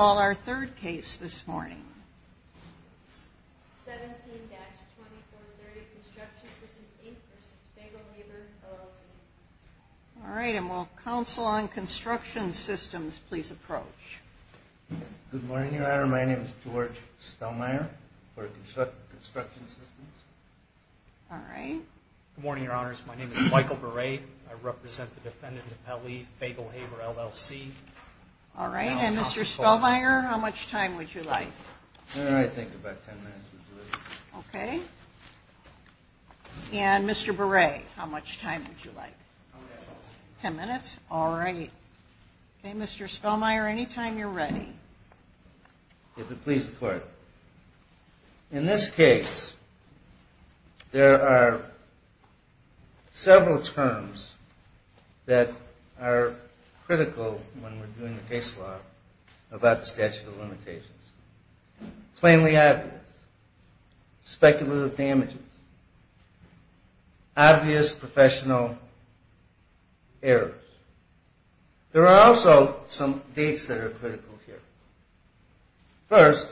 Our third case this morning. 17-2430 Construction Systems, Inc. v. Fagelhaber, LLC. All right, and will Council on Construction Systems please approach? Good morning, Your Honor. My name is George Spellmayer for Construction Systems. All right. Good morning, Your Honors. My name is Michael Beret. I represent the defendant in Appellee, Fagelhaber, LLC. All right, and Mr. Spellmayer, how much time would you like? I think about 10 minutes would do it. Okay. And Mr. Beret, how much time would you like? 10 minutes. 10 minutes? All right. Okay, Mr. Spellmayer, anytime you're ready. If it pleases the Court. In this case, there are several terms that are critical when we're doing the case law about the statute of limitations. Plainly obvious. Speculative damages. Obvious professional errors. There are also some dates that are critical here. First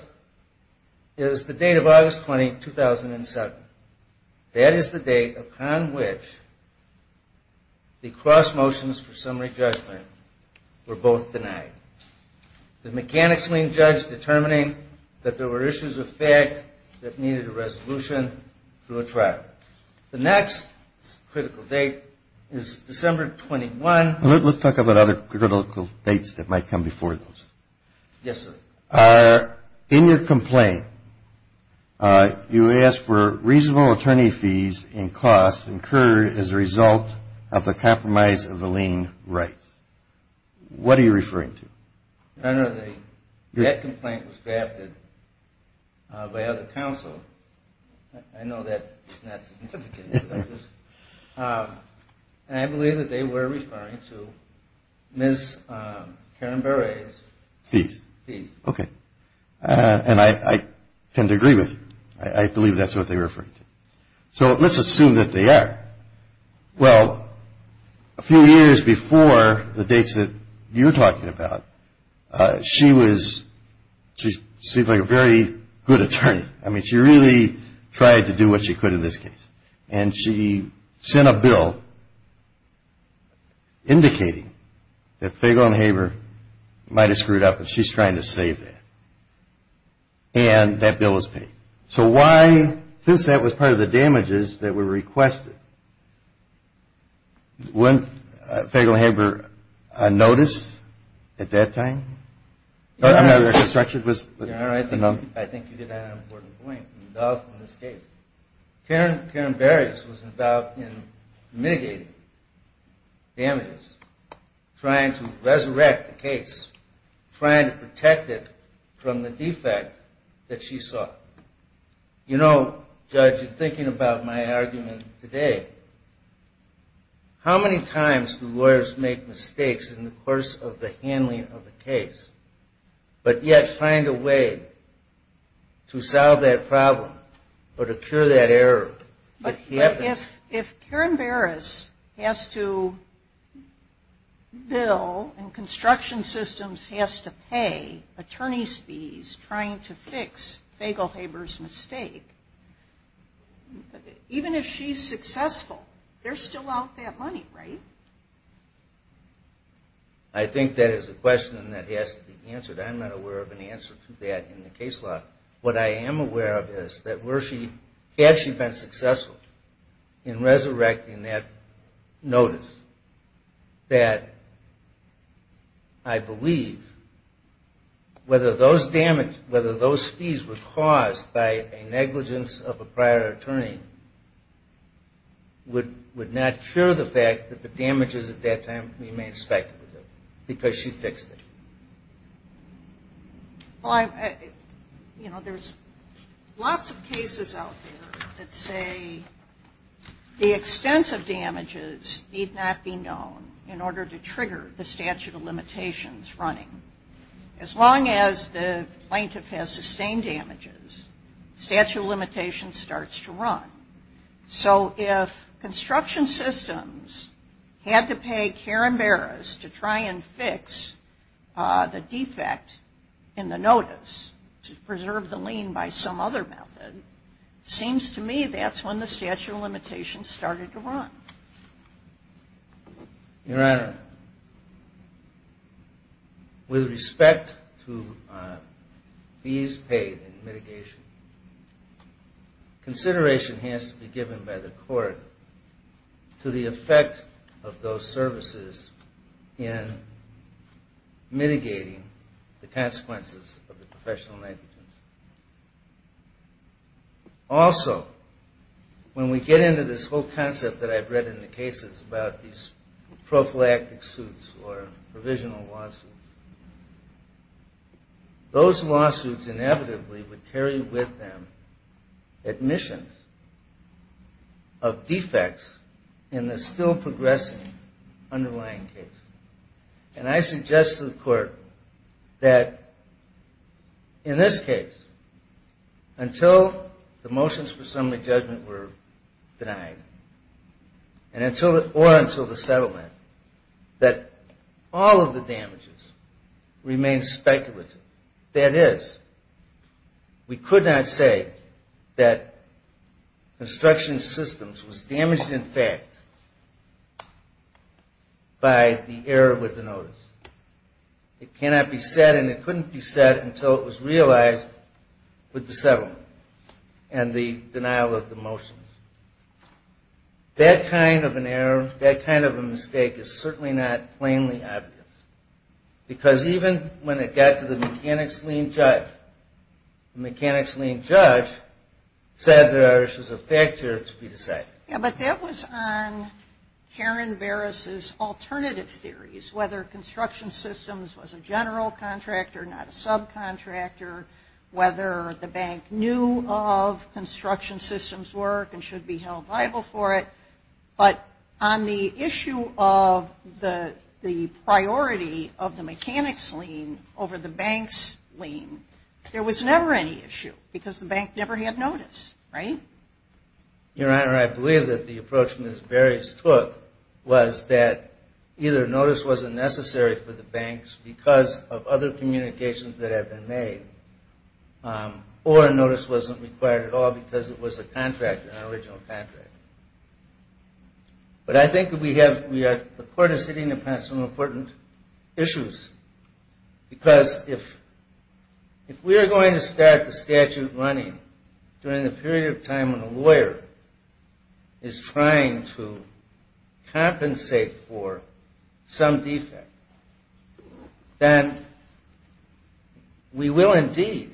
is the date of August 20, 2007. That is the date upon which the cross motions for summary judgment were both denied. The mechanics lien judge determining that there were issues of fact that needed a resolution through a trial. The next critical date is December 21. Let's talk about other critical dates that might come before those. Yes, sir. In your complaint, you ask for reasonable attorney fees and costs incurred as a result of the compromise of the lien rights. What are you referring to? Your Honor, that complaint was drafted by other counsel. I know that's not significant. And I believe that they were referring to Ms. Karen Berre's fees. Okay. And I tend to agree with you. I believe that's what they're referring to. So let's assume that they are. Well, a few years before the dates that you're talking about, she was, she seemed like a very good attorney. I mean, she really tried to do what she could in this case. And she sent a bill indicating that Fagel and Haber might have screwed up, and she's trying to save that. And that bill was paid. So why, since that was part of the damages that were requested, weren't Fagel and Haber on notice at that time? Your Honor, I think you get an important point in this case. Karen Berre's was involved in mitigating damages, trying to resurrect the case, trying to protect it from the defect that she saw. You know, Judge, in thinking about my argument today, how many times do lawyers make mistakes in the course of the handling of a case, but yet find a way to solve that problem or to cure that error? But if Karen Berre's has to bill and construction systems has to pay attorney's fees trying to fix Fagel-Haber's mistake, even if she's successful, they're still out that money, right? I think that is a question that has to be answered. I'm not aware of an answer to that in the case law. What I am aware of is that had she been successful in resurrecting that notice, that I believe whether those fees were caused by a negligence of a prior attorney would not cure the fact that the damages at that time remained speculative because she fixed it. Well, you know, there's lots of cases out there that say the extent of damages need not be known in order to trigger the statute of limitations running. As long as the plaintiff has sustained damages, statute of limitations starts to run. So if construction systems had to pay Karen Berre's to try and fix the defect in the notice to preserve the lien by some other method, it seems to me that's when the statute of limitations started to run. Your Honor, with respect to fees paid in mitigation, consideration has to be given by the court to the effect of those services in mitigating the consequences of the professional negligence. Also, when we get into this whole concept that I've read in the cases about these prophylactic suits or provisional lawsuits, those lawsuits inevitably would carry with them admissions of defects in the still-progressing underlying case. And I suggest to the court that in this case, until the motions for assembly judgment were denied or until the settlement, that all of the damages remain speculative. That is, we could not say that construction systems was damaged in fact by the error with the notice. It cannot be said and it couldn't be said until it was realized with the settlement and the denial of the motions. That kind of an error, that kind of a mistake is certainly not plainly obvious. Because even when it got to the mechanics lien judge, the mechanics lien judge said there's a factor to be decided. Yeah, but that was on Karen Barris's alternative theories, whether construction systems was a general contractor, not a subcontractor, whether the bank knew of construction systems work and should be held liable for it. But on the issue of the priority of the mechanics lien over the banks' lien, there was never any issue because the bank never had notice, right? Your Honor, I believe that the approach Ms. Barris took was that either notice wasn't necessary for the banks because of other communications that had been made, or notice wasn't required at all because it was a contract, an original contract. But I think we have, the Court is hitting upon some important issues. Because if we are going to start the statute running during the period of time when a lawyer is trying to compensate for some defect, then we will indeed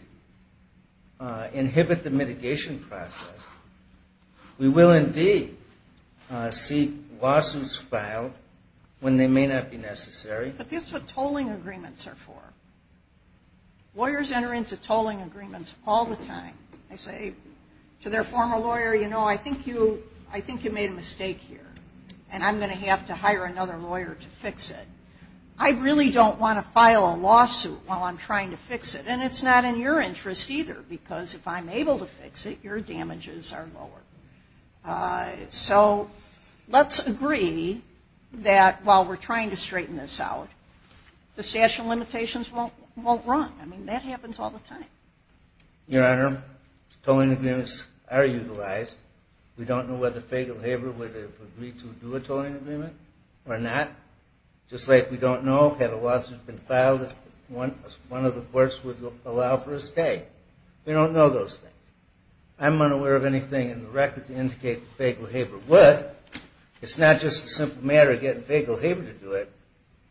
inhibit the mitigation process. We will indeed see lawsuits filed when they may not be necessary. But that's what tolling agreements are for. Lawyers enter into tolling agreements all the time. They say to their former lawyer, you know, I think you made a mistake here, and I'm going to have to hire another lawyer to fix it. I really don't want to file a lawsuit while I'm trying to fix it. And it's not in your interest either because if I'm able to fix it, your damages are lower. So let's agree that while we're trying to straighten this out, the statute of limitations won't run. I mean, that happens all the time. Your Honor, tolling agreements are utilized. We don't know whether Fagel Haber would have agreed to do a tolling agreement or not. Just like we don't know, had a lawsuit been filed, if one of the courts would allow for a stay. We don't know those things. I'm unaware of anything in the record to indicate that Fagel Haber would. It's not just a simple matter of getting Fagel Haber to do it.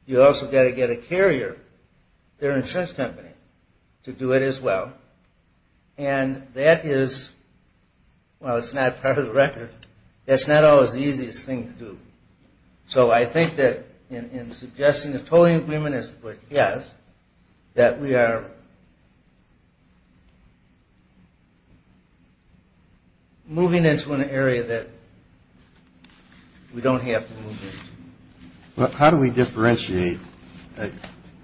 You also got to get a carrier, their insurance company, to do it as well. And that is, well, it's not part of the record. That's not always the easiest thing to do. So I think that in suggesting a tolling agreement is what he has, that we are moving into an area that we don't have to move into. Well, how do we differentiate?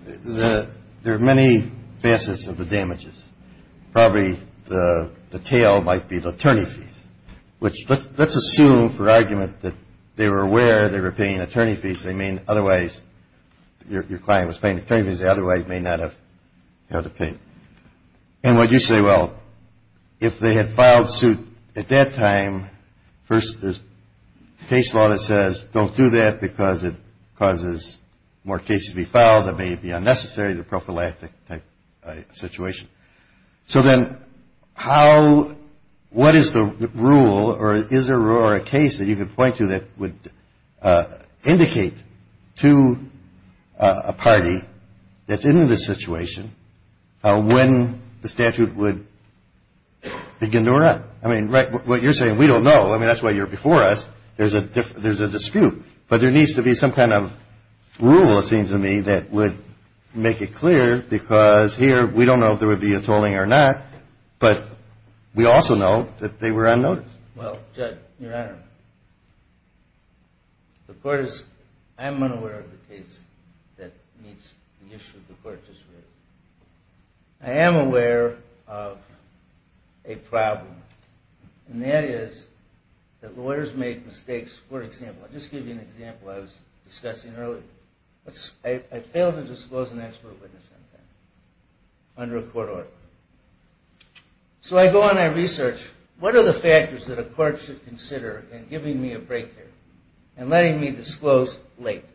There are many facets of the damages. Probably the tail might be the attorney fees, which let's assume for argument that they were aware they were paying attorney fees. They mean otherwise your client was paying attorney fees they otherwise may not have had to pay. And what you say, well, if they had filed suit at that time, first there's case law that says don't do that because it causes more cases to be filed. It may be unnecessary. It's a prophylactic type situation. So then what is the rule or is there a rule or a case that you could point to that would indicate to a party that's in this situation, when the statute would begin to run? I mean, what you're saying, we don't know. I mean, that's why you're before us. There's a dispute. But there needs to be some kind of rule, it seems to me, that would make it clear because here we don't know if there would be a tolling or not. But we also know that they were unnoticed. Well, Judge, Your Honor, I'm unaware of the case that meets the issue the court just raised. I am aware of a problem, and that is that lawyers make mistakes. For example, I'll just give you an example I was discussing earlier. I failed to disclose an expert witness under a court order. So I go on and I research, what are the factors that a court should consider in giving me a break here and letting me disclose late?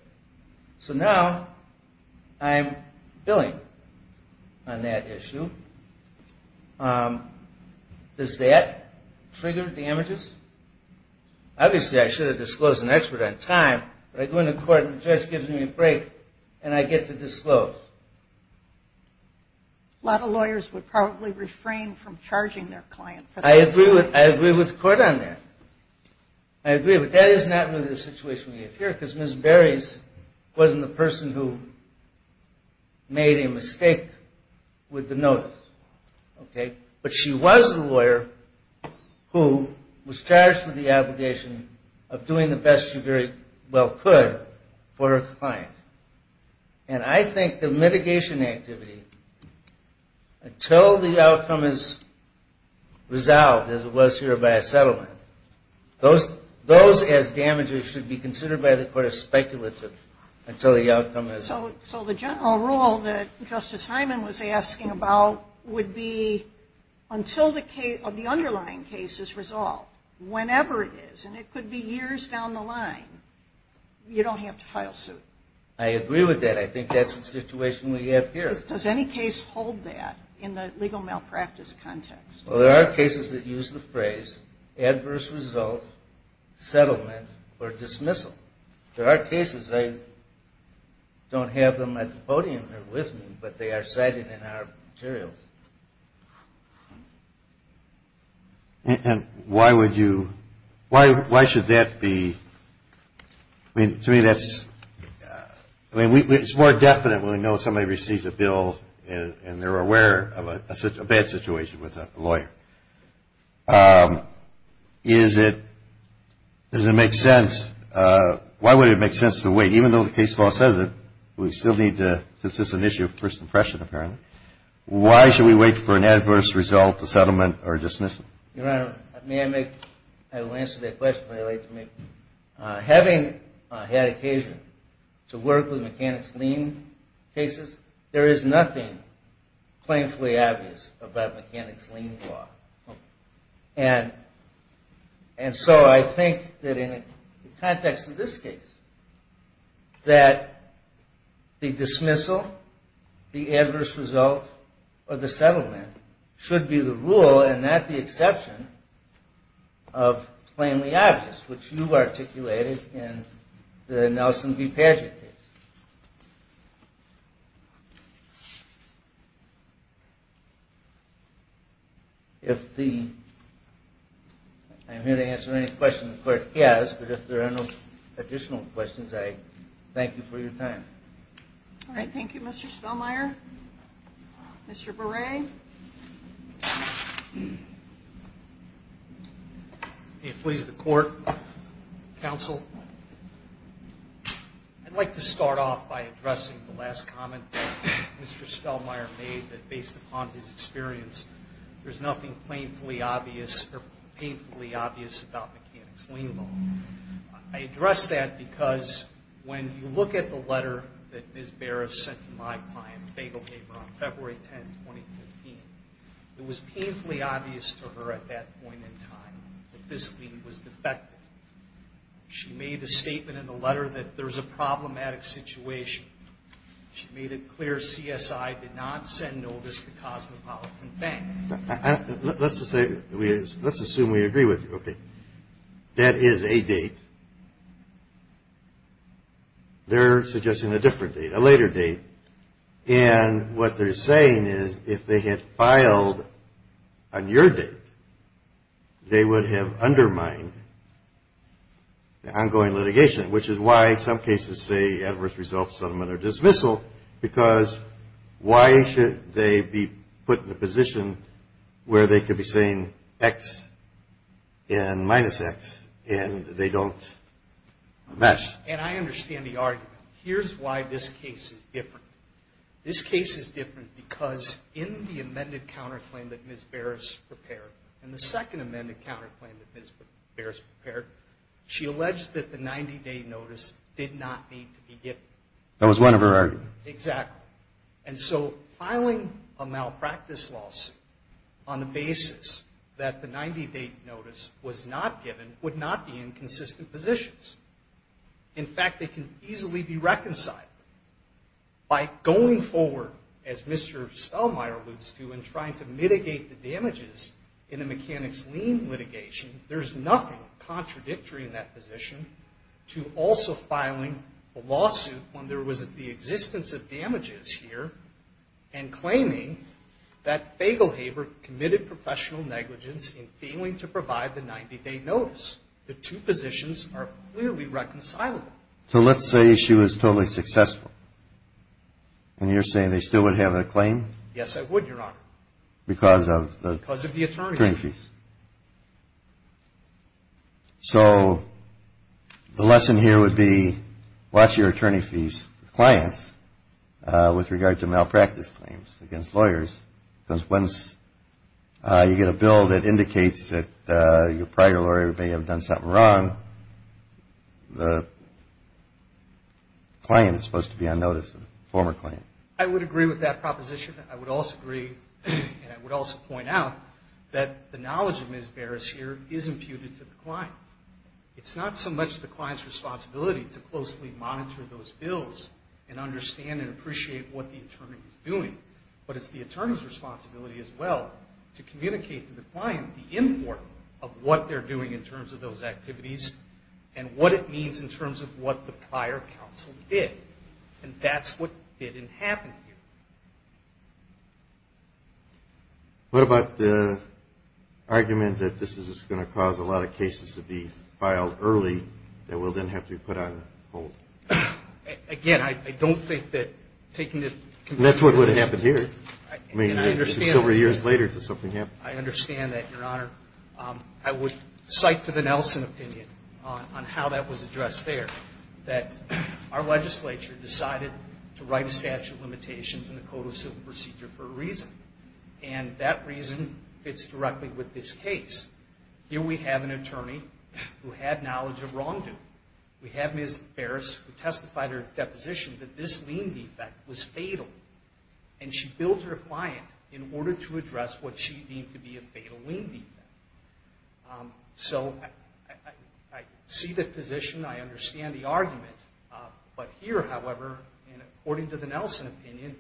So now I'm billing on that issue. Does that trigger damages? Obviously, I should have disclosed an expert on time, but I go into court and the judge gives me a break and I get to disclose. A lot of lawyers would probably refrain from charging their client. I agree with the court on that. I agree, but that is not really the situation we have here because Ms. Berries wasn't the person who made a mistake with the notice. But she was the lawyer who was charged with the obligation of doing the best she very well could for her client. And I think the mitigation activity until the outcome is resolved, as it was here by a settlement, those as damages should be considered by the court as speculative until the outcome is resolved. So the general rule that Justice Hyman was asking about would be until the underlying case is resolved, whenever it is, and it could be years down the line, you don't have to file suit. I agree with that. I think that's the situation we have here. Does any case hold that in the legal malpractice context? Well, there are cases that use the phrase adverse result, settlement, or dismissal. There are cases, I don't have them at the podium here with me, but they are cited in our materials. And why would you, why should that be, I mean, to me that's, I mean, it's more definite when we know somebody receives a bill and they're aware of a bad situation with a lawyer. Is it, does it make sense, why would it make sense to wait, even though the case law says it, we still need to, since it's an issue of first impression apparently, why should we wait for an adverse result, a settlement, or a dismissal? Your Honor, may I make, I will answer that question when I lay it to you. Having had occasion to work with mechanics lien cases, there is nothing plainly obvious about mechanics lien law. And so I think that in the context of this case, that the dismissal, the adverse result, or the settlement should be the rule and not the exception of plainly obvious, which you articulated in the Nelson v. Padgett case. If the, I'm here to answer any questions the clerk has, but if there are no additional questions, I thank you for your time. All right, thank you, Mr. Spellmeyer. Mr. Berre. May it please the court, counsel? I'd like to start off by addressing the last comment Mr. Spellmeyer made, that based upon his experience, there's nothing plainly obvious, or painfully obvious about mechanics lien law. I address that because when you look at the letter that Ms. Berre sent to my client, a fatal paper on February 10, 2015, it was painfully obvious to her at that point in time that this lien was defective. She made a statement in the letter that there's a problematic situation. She made it clear CSI did not send notice to Cosmopolitan Bank. Let's assume we agree with you. Okay. That is a date. They're suggesting a different date, a later date. And what they're saying is if they had filed on your date, they would have undermined the ongoing litigation, which is why some cases say adverse results, settlement, or dismissal, because why should they be put in a position where they could be saying X and minus X, and they don't match? And I understand the argument. Here's why this case is different. This case is different because in the amended counterclaim that Ms. Berre prepared, in the second amended counterclaim that Ms. Berre prepared, she alleged that the 90-day notice did not need to be given. That was one of her arguments. Exactly. And so filing a malpractice lawsuit on the basis that the 90-day notice was not given would not be in consistent positions. In fact, it can easily be reconciled. By going forward, as Mr. Spellmeyer alludes to, and trying to mitigate the damages in the mechanics lien litigation, there's nothing contradictory in that position to also filing a lawsuit when there was the existence of damages here and claiming that Faglehaber committed professional negligence in failing to provide the 90-day notice. The two positions are clearly reconcilable. So let's say she was totally successful, and you're saying they still would have a claim? Yes, I would, Your Honor. Because of the attorney fees. So the lesson here would be watch your attorney fees for clients with regard to malpractice claims against lawyers. Because once you get a bill that indicates that your prior lawyer may have done something wrong, the client is supposed to be on notice, the former client. I would agree with that proposition. I would also agree, and I would also point out, that the knowledge of Ms. Barris here is imputed to the client. It's not so much the client's responsibility to closely monitor those bills and understand and appreciate what the attorney is doing, but it's the attorney's responsibility as well to communicate to the client the import of what they're doing in terms of those activities and what it means in terms of what the prior counsel did. And that's what didn't happen here. What about the argument that this is just going to cause a lot of cases to be filed early that will then have to be put on hold? Again, I don't think that taking the complete opposite. And that's what would have happened here. I mean, it's several years later that something happened. I understand that, Your Honor. I would cite to the Nelson opinion on how that was addressed there, that our legislature decided to write a statute of limitations in the Code of Civil Procedure for a reason, and that reason fits directly with this case. Here we have an attorney who had knowledge of wrongdoing. We have Ms. Barris who testified her deposition that this lien defect was fatal, and she billed her client in order to address what she deemed to be a fatal lien defect. So I see the position. I understand the argument. But here, however, and according to the Nelson opinion,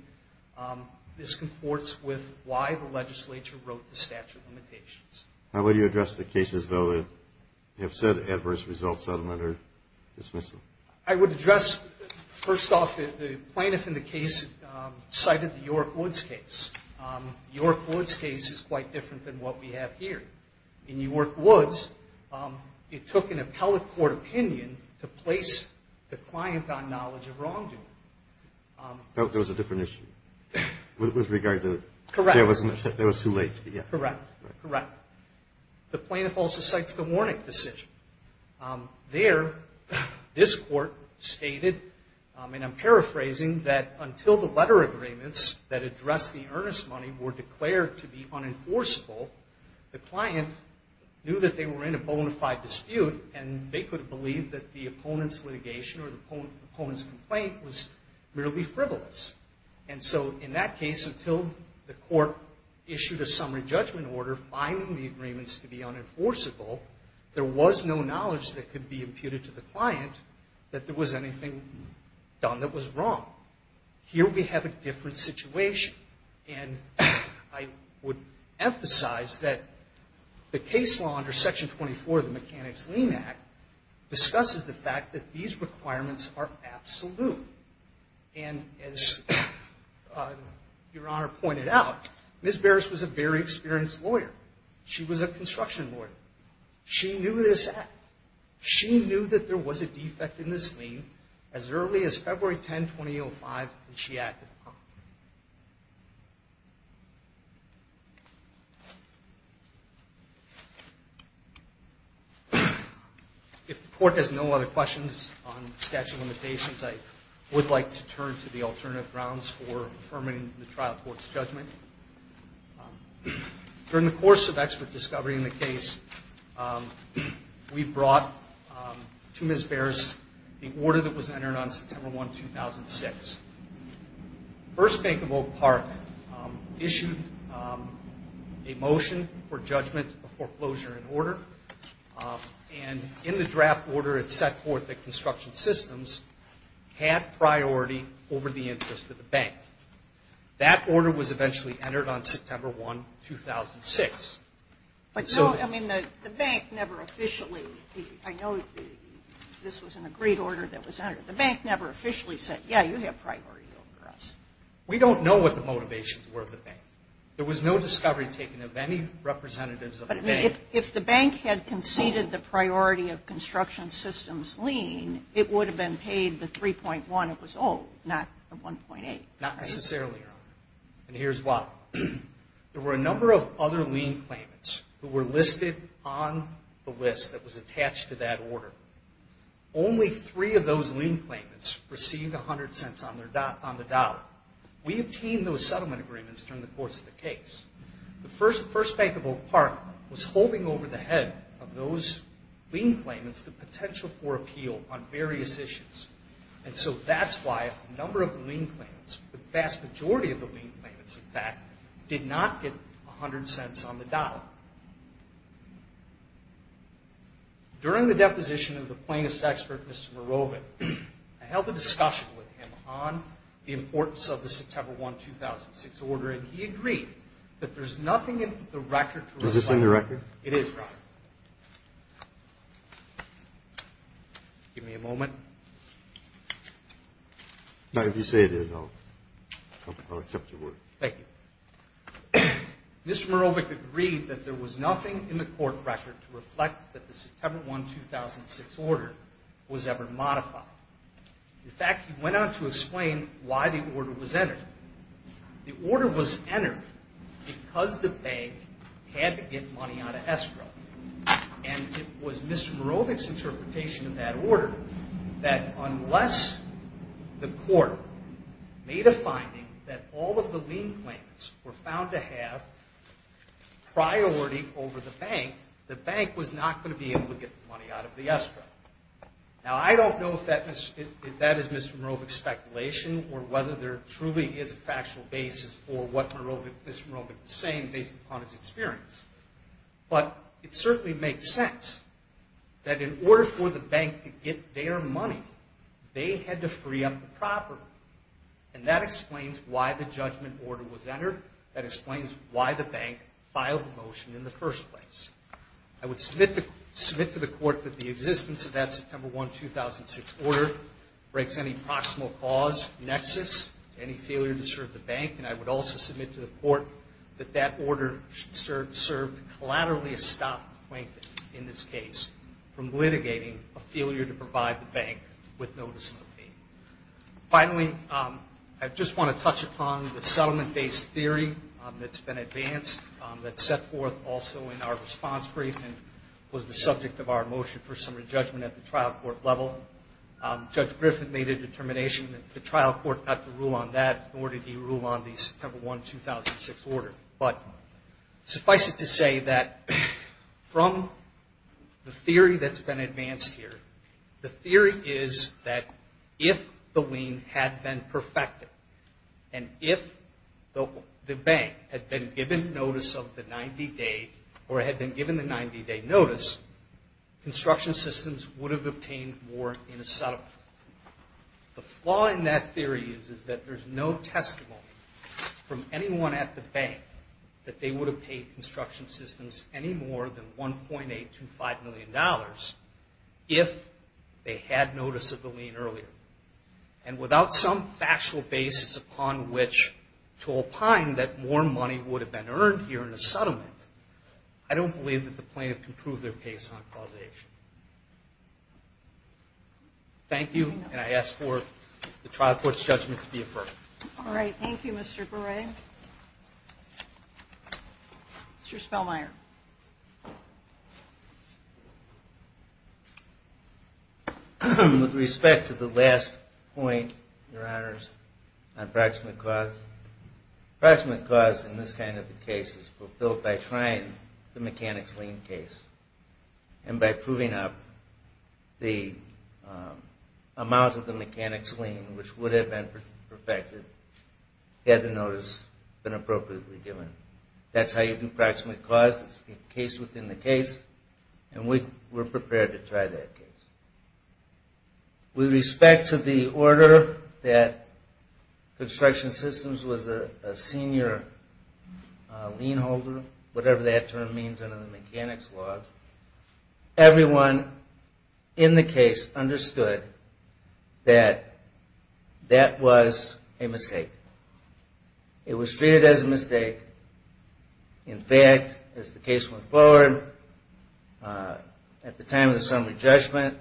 this comports with why the legislature wrote the statute of limitations. How would you address the cases, though, that have said adverse results that are under dismissal? I would address, first off, the plaintiff in the case cited the York Woods case. The York Woods case is quite different than what we have here. In York Woods, it took an appellate court opinion to place the client on knowledge of wrongdoing. That was a different issue with regard to it. Correct. That was too late. Correct. Correct. The plaintiff also cites the Warnick decision. There, this court stated, and I'm paraphrasing, that until the letter agreements that address the earnest money were declared to be unenforceable, the client knew that they were in a bona fide dispute, and they could have believed that the opponent's litigation or the opponent's complaint was merely frivolous. And so in that case, until the court issued a summary judgment order finding the agreements to be unenforceable, there was no knowledge that could be imputed to the client that there was anything done that was wrong. Here we have a different situation, and I would emphasize that the case law under Section 24 of the Mechanics-Lean Act discusses the fact that these requirements are absolute. And as Your Honor pointed out, Ms. Barris was a very experienced lawyer. She was a construction lawyer. She knew this act. She knew that there was a defect in this lien as early as February 10, 2005, and she acted upon it. If the court has no other questions on statute of limitations, I would like to turn to the alternative grounds for affirming the trial court's judgment. During the course of expert discovery in the case, we brought to Ms. Barris the order that was entered on September 1, 2006. The First Bank of Oak Park issued a motion for judgment of foreclosure in order, and in the draft order it set forth that construction systems had priority over the interest of the bank. That order was eventually entered on September 1, 2006. I mean, the bank never officially – I know this was an agreed order that was entered. The bank never officially said, yeah, you have priority over us. We don't know what the motivations were of the bank. There was no discovery taken of any representatives of the bank. But if the bank had conceded the priority of construction systems lien, it would have been paid the 3.1 it was owed, not the 1.8. Not necessarily, Your Honor, and here's why. There were a number of other lien claimants who were listed on the list that was attached to that order. Only three of those lien claimants received 100 cents on the dollar. We obtained those settlement agreements during the course of the case. The First Bank of Oak Park was holding over the head of those lien claimants the potential for appeal on various issues, and so that's why a number of the lien claimants, the vast majority of the lien claimants, in fact, did not get 100 cents on the dollar. During the deposition of the plaintiff's expert, Mr. Mirovin, I held a discussion with him on the importance of the September 1, 2006 order, and he agreed that there's nothing in the record to reflect. Is this in the record? It is, Your Honor. Give me a moment. No, if you say it is, I'll accept your word. Thank you. Mr. Mirovin agreed that there was nothing in the court record to reflect that the September 1, 2006 order was ever modified. In fact, he went on to explain why the order was entered. The order was entered because the bank had to get money out of escrow, and it was Mr. Mirovin's interpretation of that order that unless the court made a finding that all of the lien claimants were found to have priority over the bank, the bank was not going to be able to get money out of the escrow. Now, I don't know if that is Mr. Mirovin's speculation or whether there truly is a factual basis for what Mr. Mirovin is saying based upon his experience, but it certainly makes sense that in order for the bank to get their money, they had to free up the property, and that explains why the judgment order was entered. That explains why the bank filed the motion in the first place. I would submit to the court that the existence of that September 1, 2006 order breaks any proximal cause nexus, any failure to serve the bank, and I would also submit to the court that that order should serve to collaterally stop Plankton in this case from litigating a failure to provide the bank with notice of the fee. Finally, I just want to touch upon the settlement-based theory that has been advanced, that set forth also in our response briefing, was the subject of our motion for summary judgment at the trial court level. Judge Griffin made a determination that the trial court got to rule on that, nor did he rule on the September 1, 2006 order. But suffice it to say that from the theory that's been advanced here, the theory is that if the lien had been perfected and if the bank had been given notice of the 90-day or had been given the 90-day notice, construction systems would have obtained more in a settlement. The flaw in that theory is that there's no testimony from anyone at the bank that they would have paid construction systems any more than $1.825 million if they had notice of the lien earlier. And without some factual basis upon which to opine that more money would have been earned here in a settlement, I don't believe that the plaintiff can prove their case on causation. Thank you, and I ask for the trial court's judgment to be affirmed. All right. Thank you, Mr. Berre. Mr. Spellmeyer. With respect to the last point, Your Honors, on proximate cause, proximate cause in this kind of a case is fulfilled by trying the mechanics lien case and by proving the amount of the mechanics lien which would have been perfected had the notice been appropriately given. That's how you do proximate cause. It's the case within the case. And we're prepared to try that case. With respect to the order that construction systems was a senior lien holder, whatever that term means under the mechanics laws, everyone in the case understood that that was a mistake. It was treated as a mistake. In fact, as the case went forward, at the time of the summary judgment,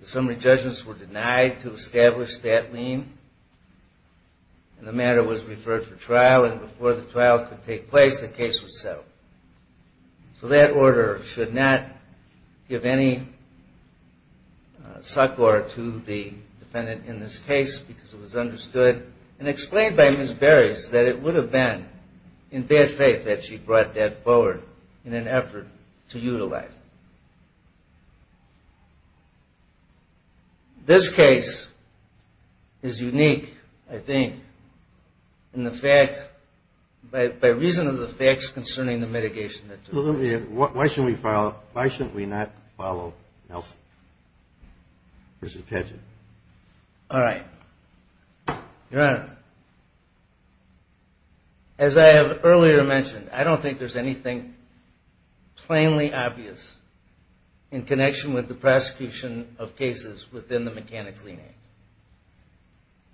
the summary judgments were denied to establish that lien, and the matter was referred for trial. And before the trial could take place, the case was settled. So that order should not give any succor to the defendant in this case because it was understood and explained by Ms. Beres that it would have been in bad faith that she brought that forward in an effort to utilize it. This case is unique, I think, in the fact, by reason of the facts concerning the mitigation that took place. Why shouldn't we not follow Nelson versus Paget? All right. Your Honor, as I have earlier mentioned, I don't think there's anything plainly obvious in connection with the prosecution of cases within the Mechanics Lien Act.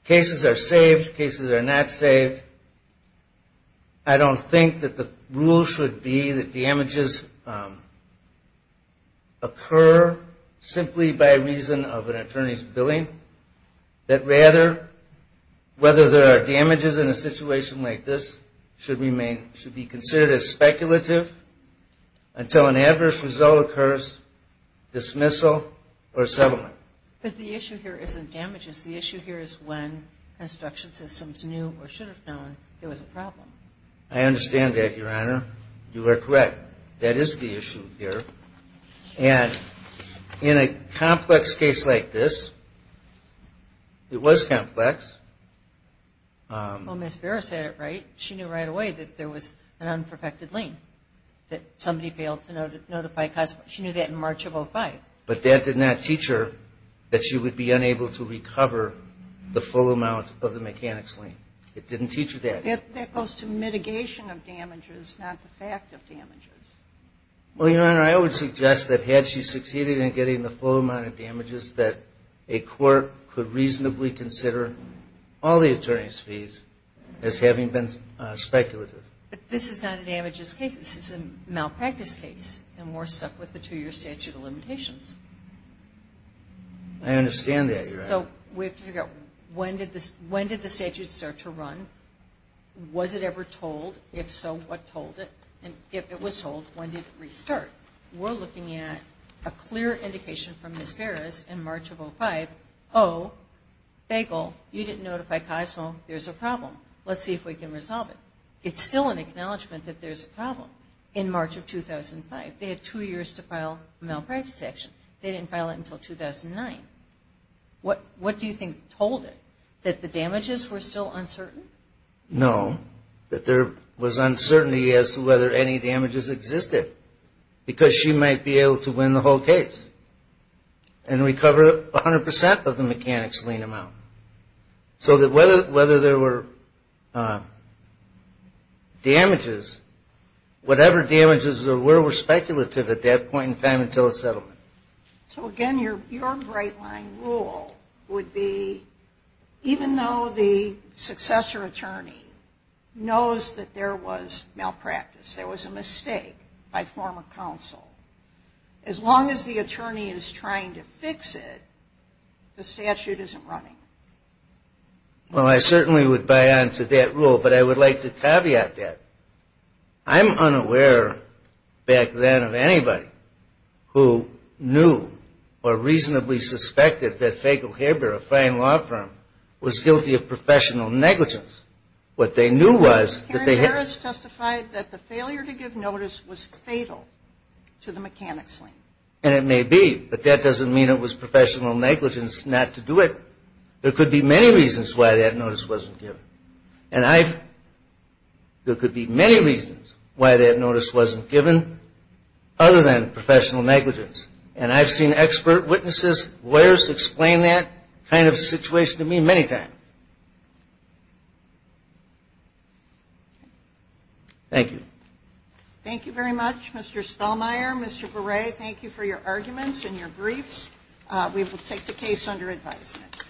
Cases are saved. Cases are not saved. I don't think that the rule should be that damages occur simply by reason of an attorney's billing, that rather, whether there are damages in a situation like this, should be considered as speculative until an adverse result occurs, dismissal, or settlement. But the issue here isn't damages. The issue here is when construction systems knew or should have known there was a problem. I understand that, Your Honor. You are correct. That is the issue here. And in a complex case like this, it was complex. Well, Ms. Beres had it right. She knew right away that there was an unperfected lien, that somebody failed to notify. She knew that in March of 2005. But that did not teach her that she would be unable to recover the full amount of the mechanics lien. It didn't teach her that. That goes to mitigation of damages, not the fact of damages. Well, Your Honor, I would suggest that had she succeeded in getting the full amount of damages, that a court could reasonably consider all the attorney's fees as having been speculative. But this is not a damages case. This is a malpractice case, and we're stuck with the two-year statute of limitations. I understand that, Your Honor. So we have to figure out when did the statute start to run? Was it ever told? If so, what told it? And if it was told, when did it restart? We're looking at a clear indication from Ms. Beres in March of 2005. Oh, Bagel, you didn't notify COSMO. There's a problem. Let's see if we can resolve it. It's still an acknowledgment that there's a problem in March of 2005. They had two years to file a malpractice action. They didn't file it until 2009. What do you think told it, that the damages were still uncertain? No, that there was uncertainty as to whether any damages existed, because she might be able to win the whole case and recover 100 percent of the mechanics lien amount. So that whether there were damages, whatever damages there were, were speculative at that point in time until the settlement. So, again, your bright line rule would be, even though the successor attorney knows that there was malpractice, there was a mistake by former counsel, as long as the attorney is trying to fix it, the statute isn't running. Well, I certainly would buy on to that rule, but I would like to caveat that. I'm unaware back then of anybody who knew or reasonably suspected that Fagel-Haber, a fine law firm, was guilty of professional negligence. What they knew was that they had. Harris testified that the failure to give notice was fatal to the mechanics lien. And it may be, but that doesn't mean it was professional negligence not to do it. There could be many reasons why that notice wasn't given, and there could be many reasons why that notice wasn't given other than professional negligence, and I've seen expert witnesses, lawyers explain that kind of situation to me many times. Thank you. Thank you very much, Mr. Spellmeyer. Mr. Berre, thank you for your arguments and your briefs. We will take the case under advisement.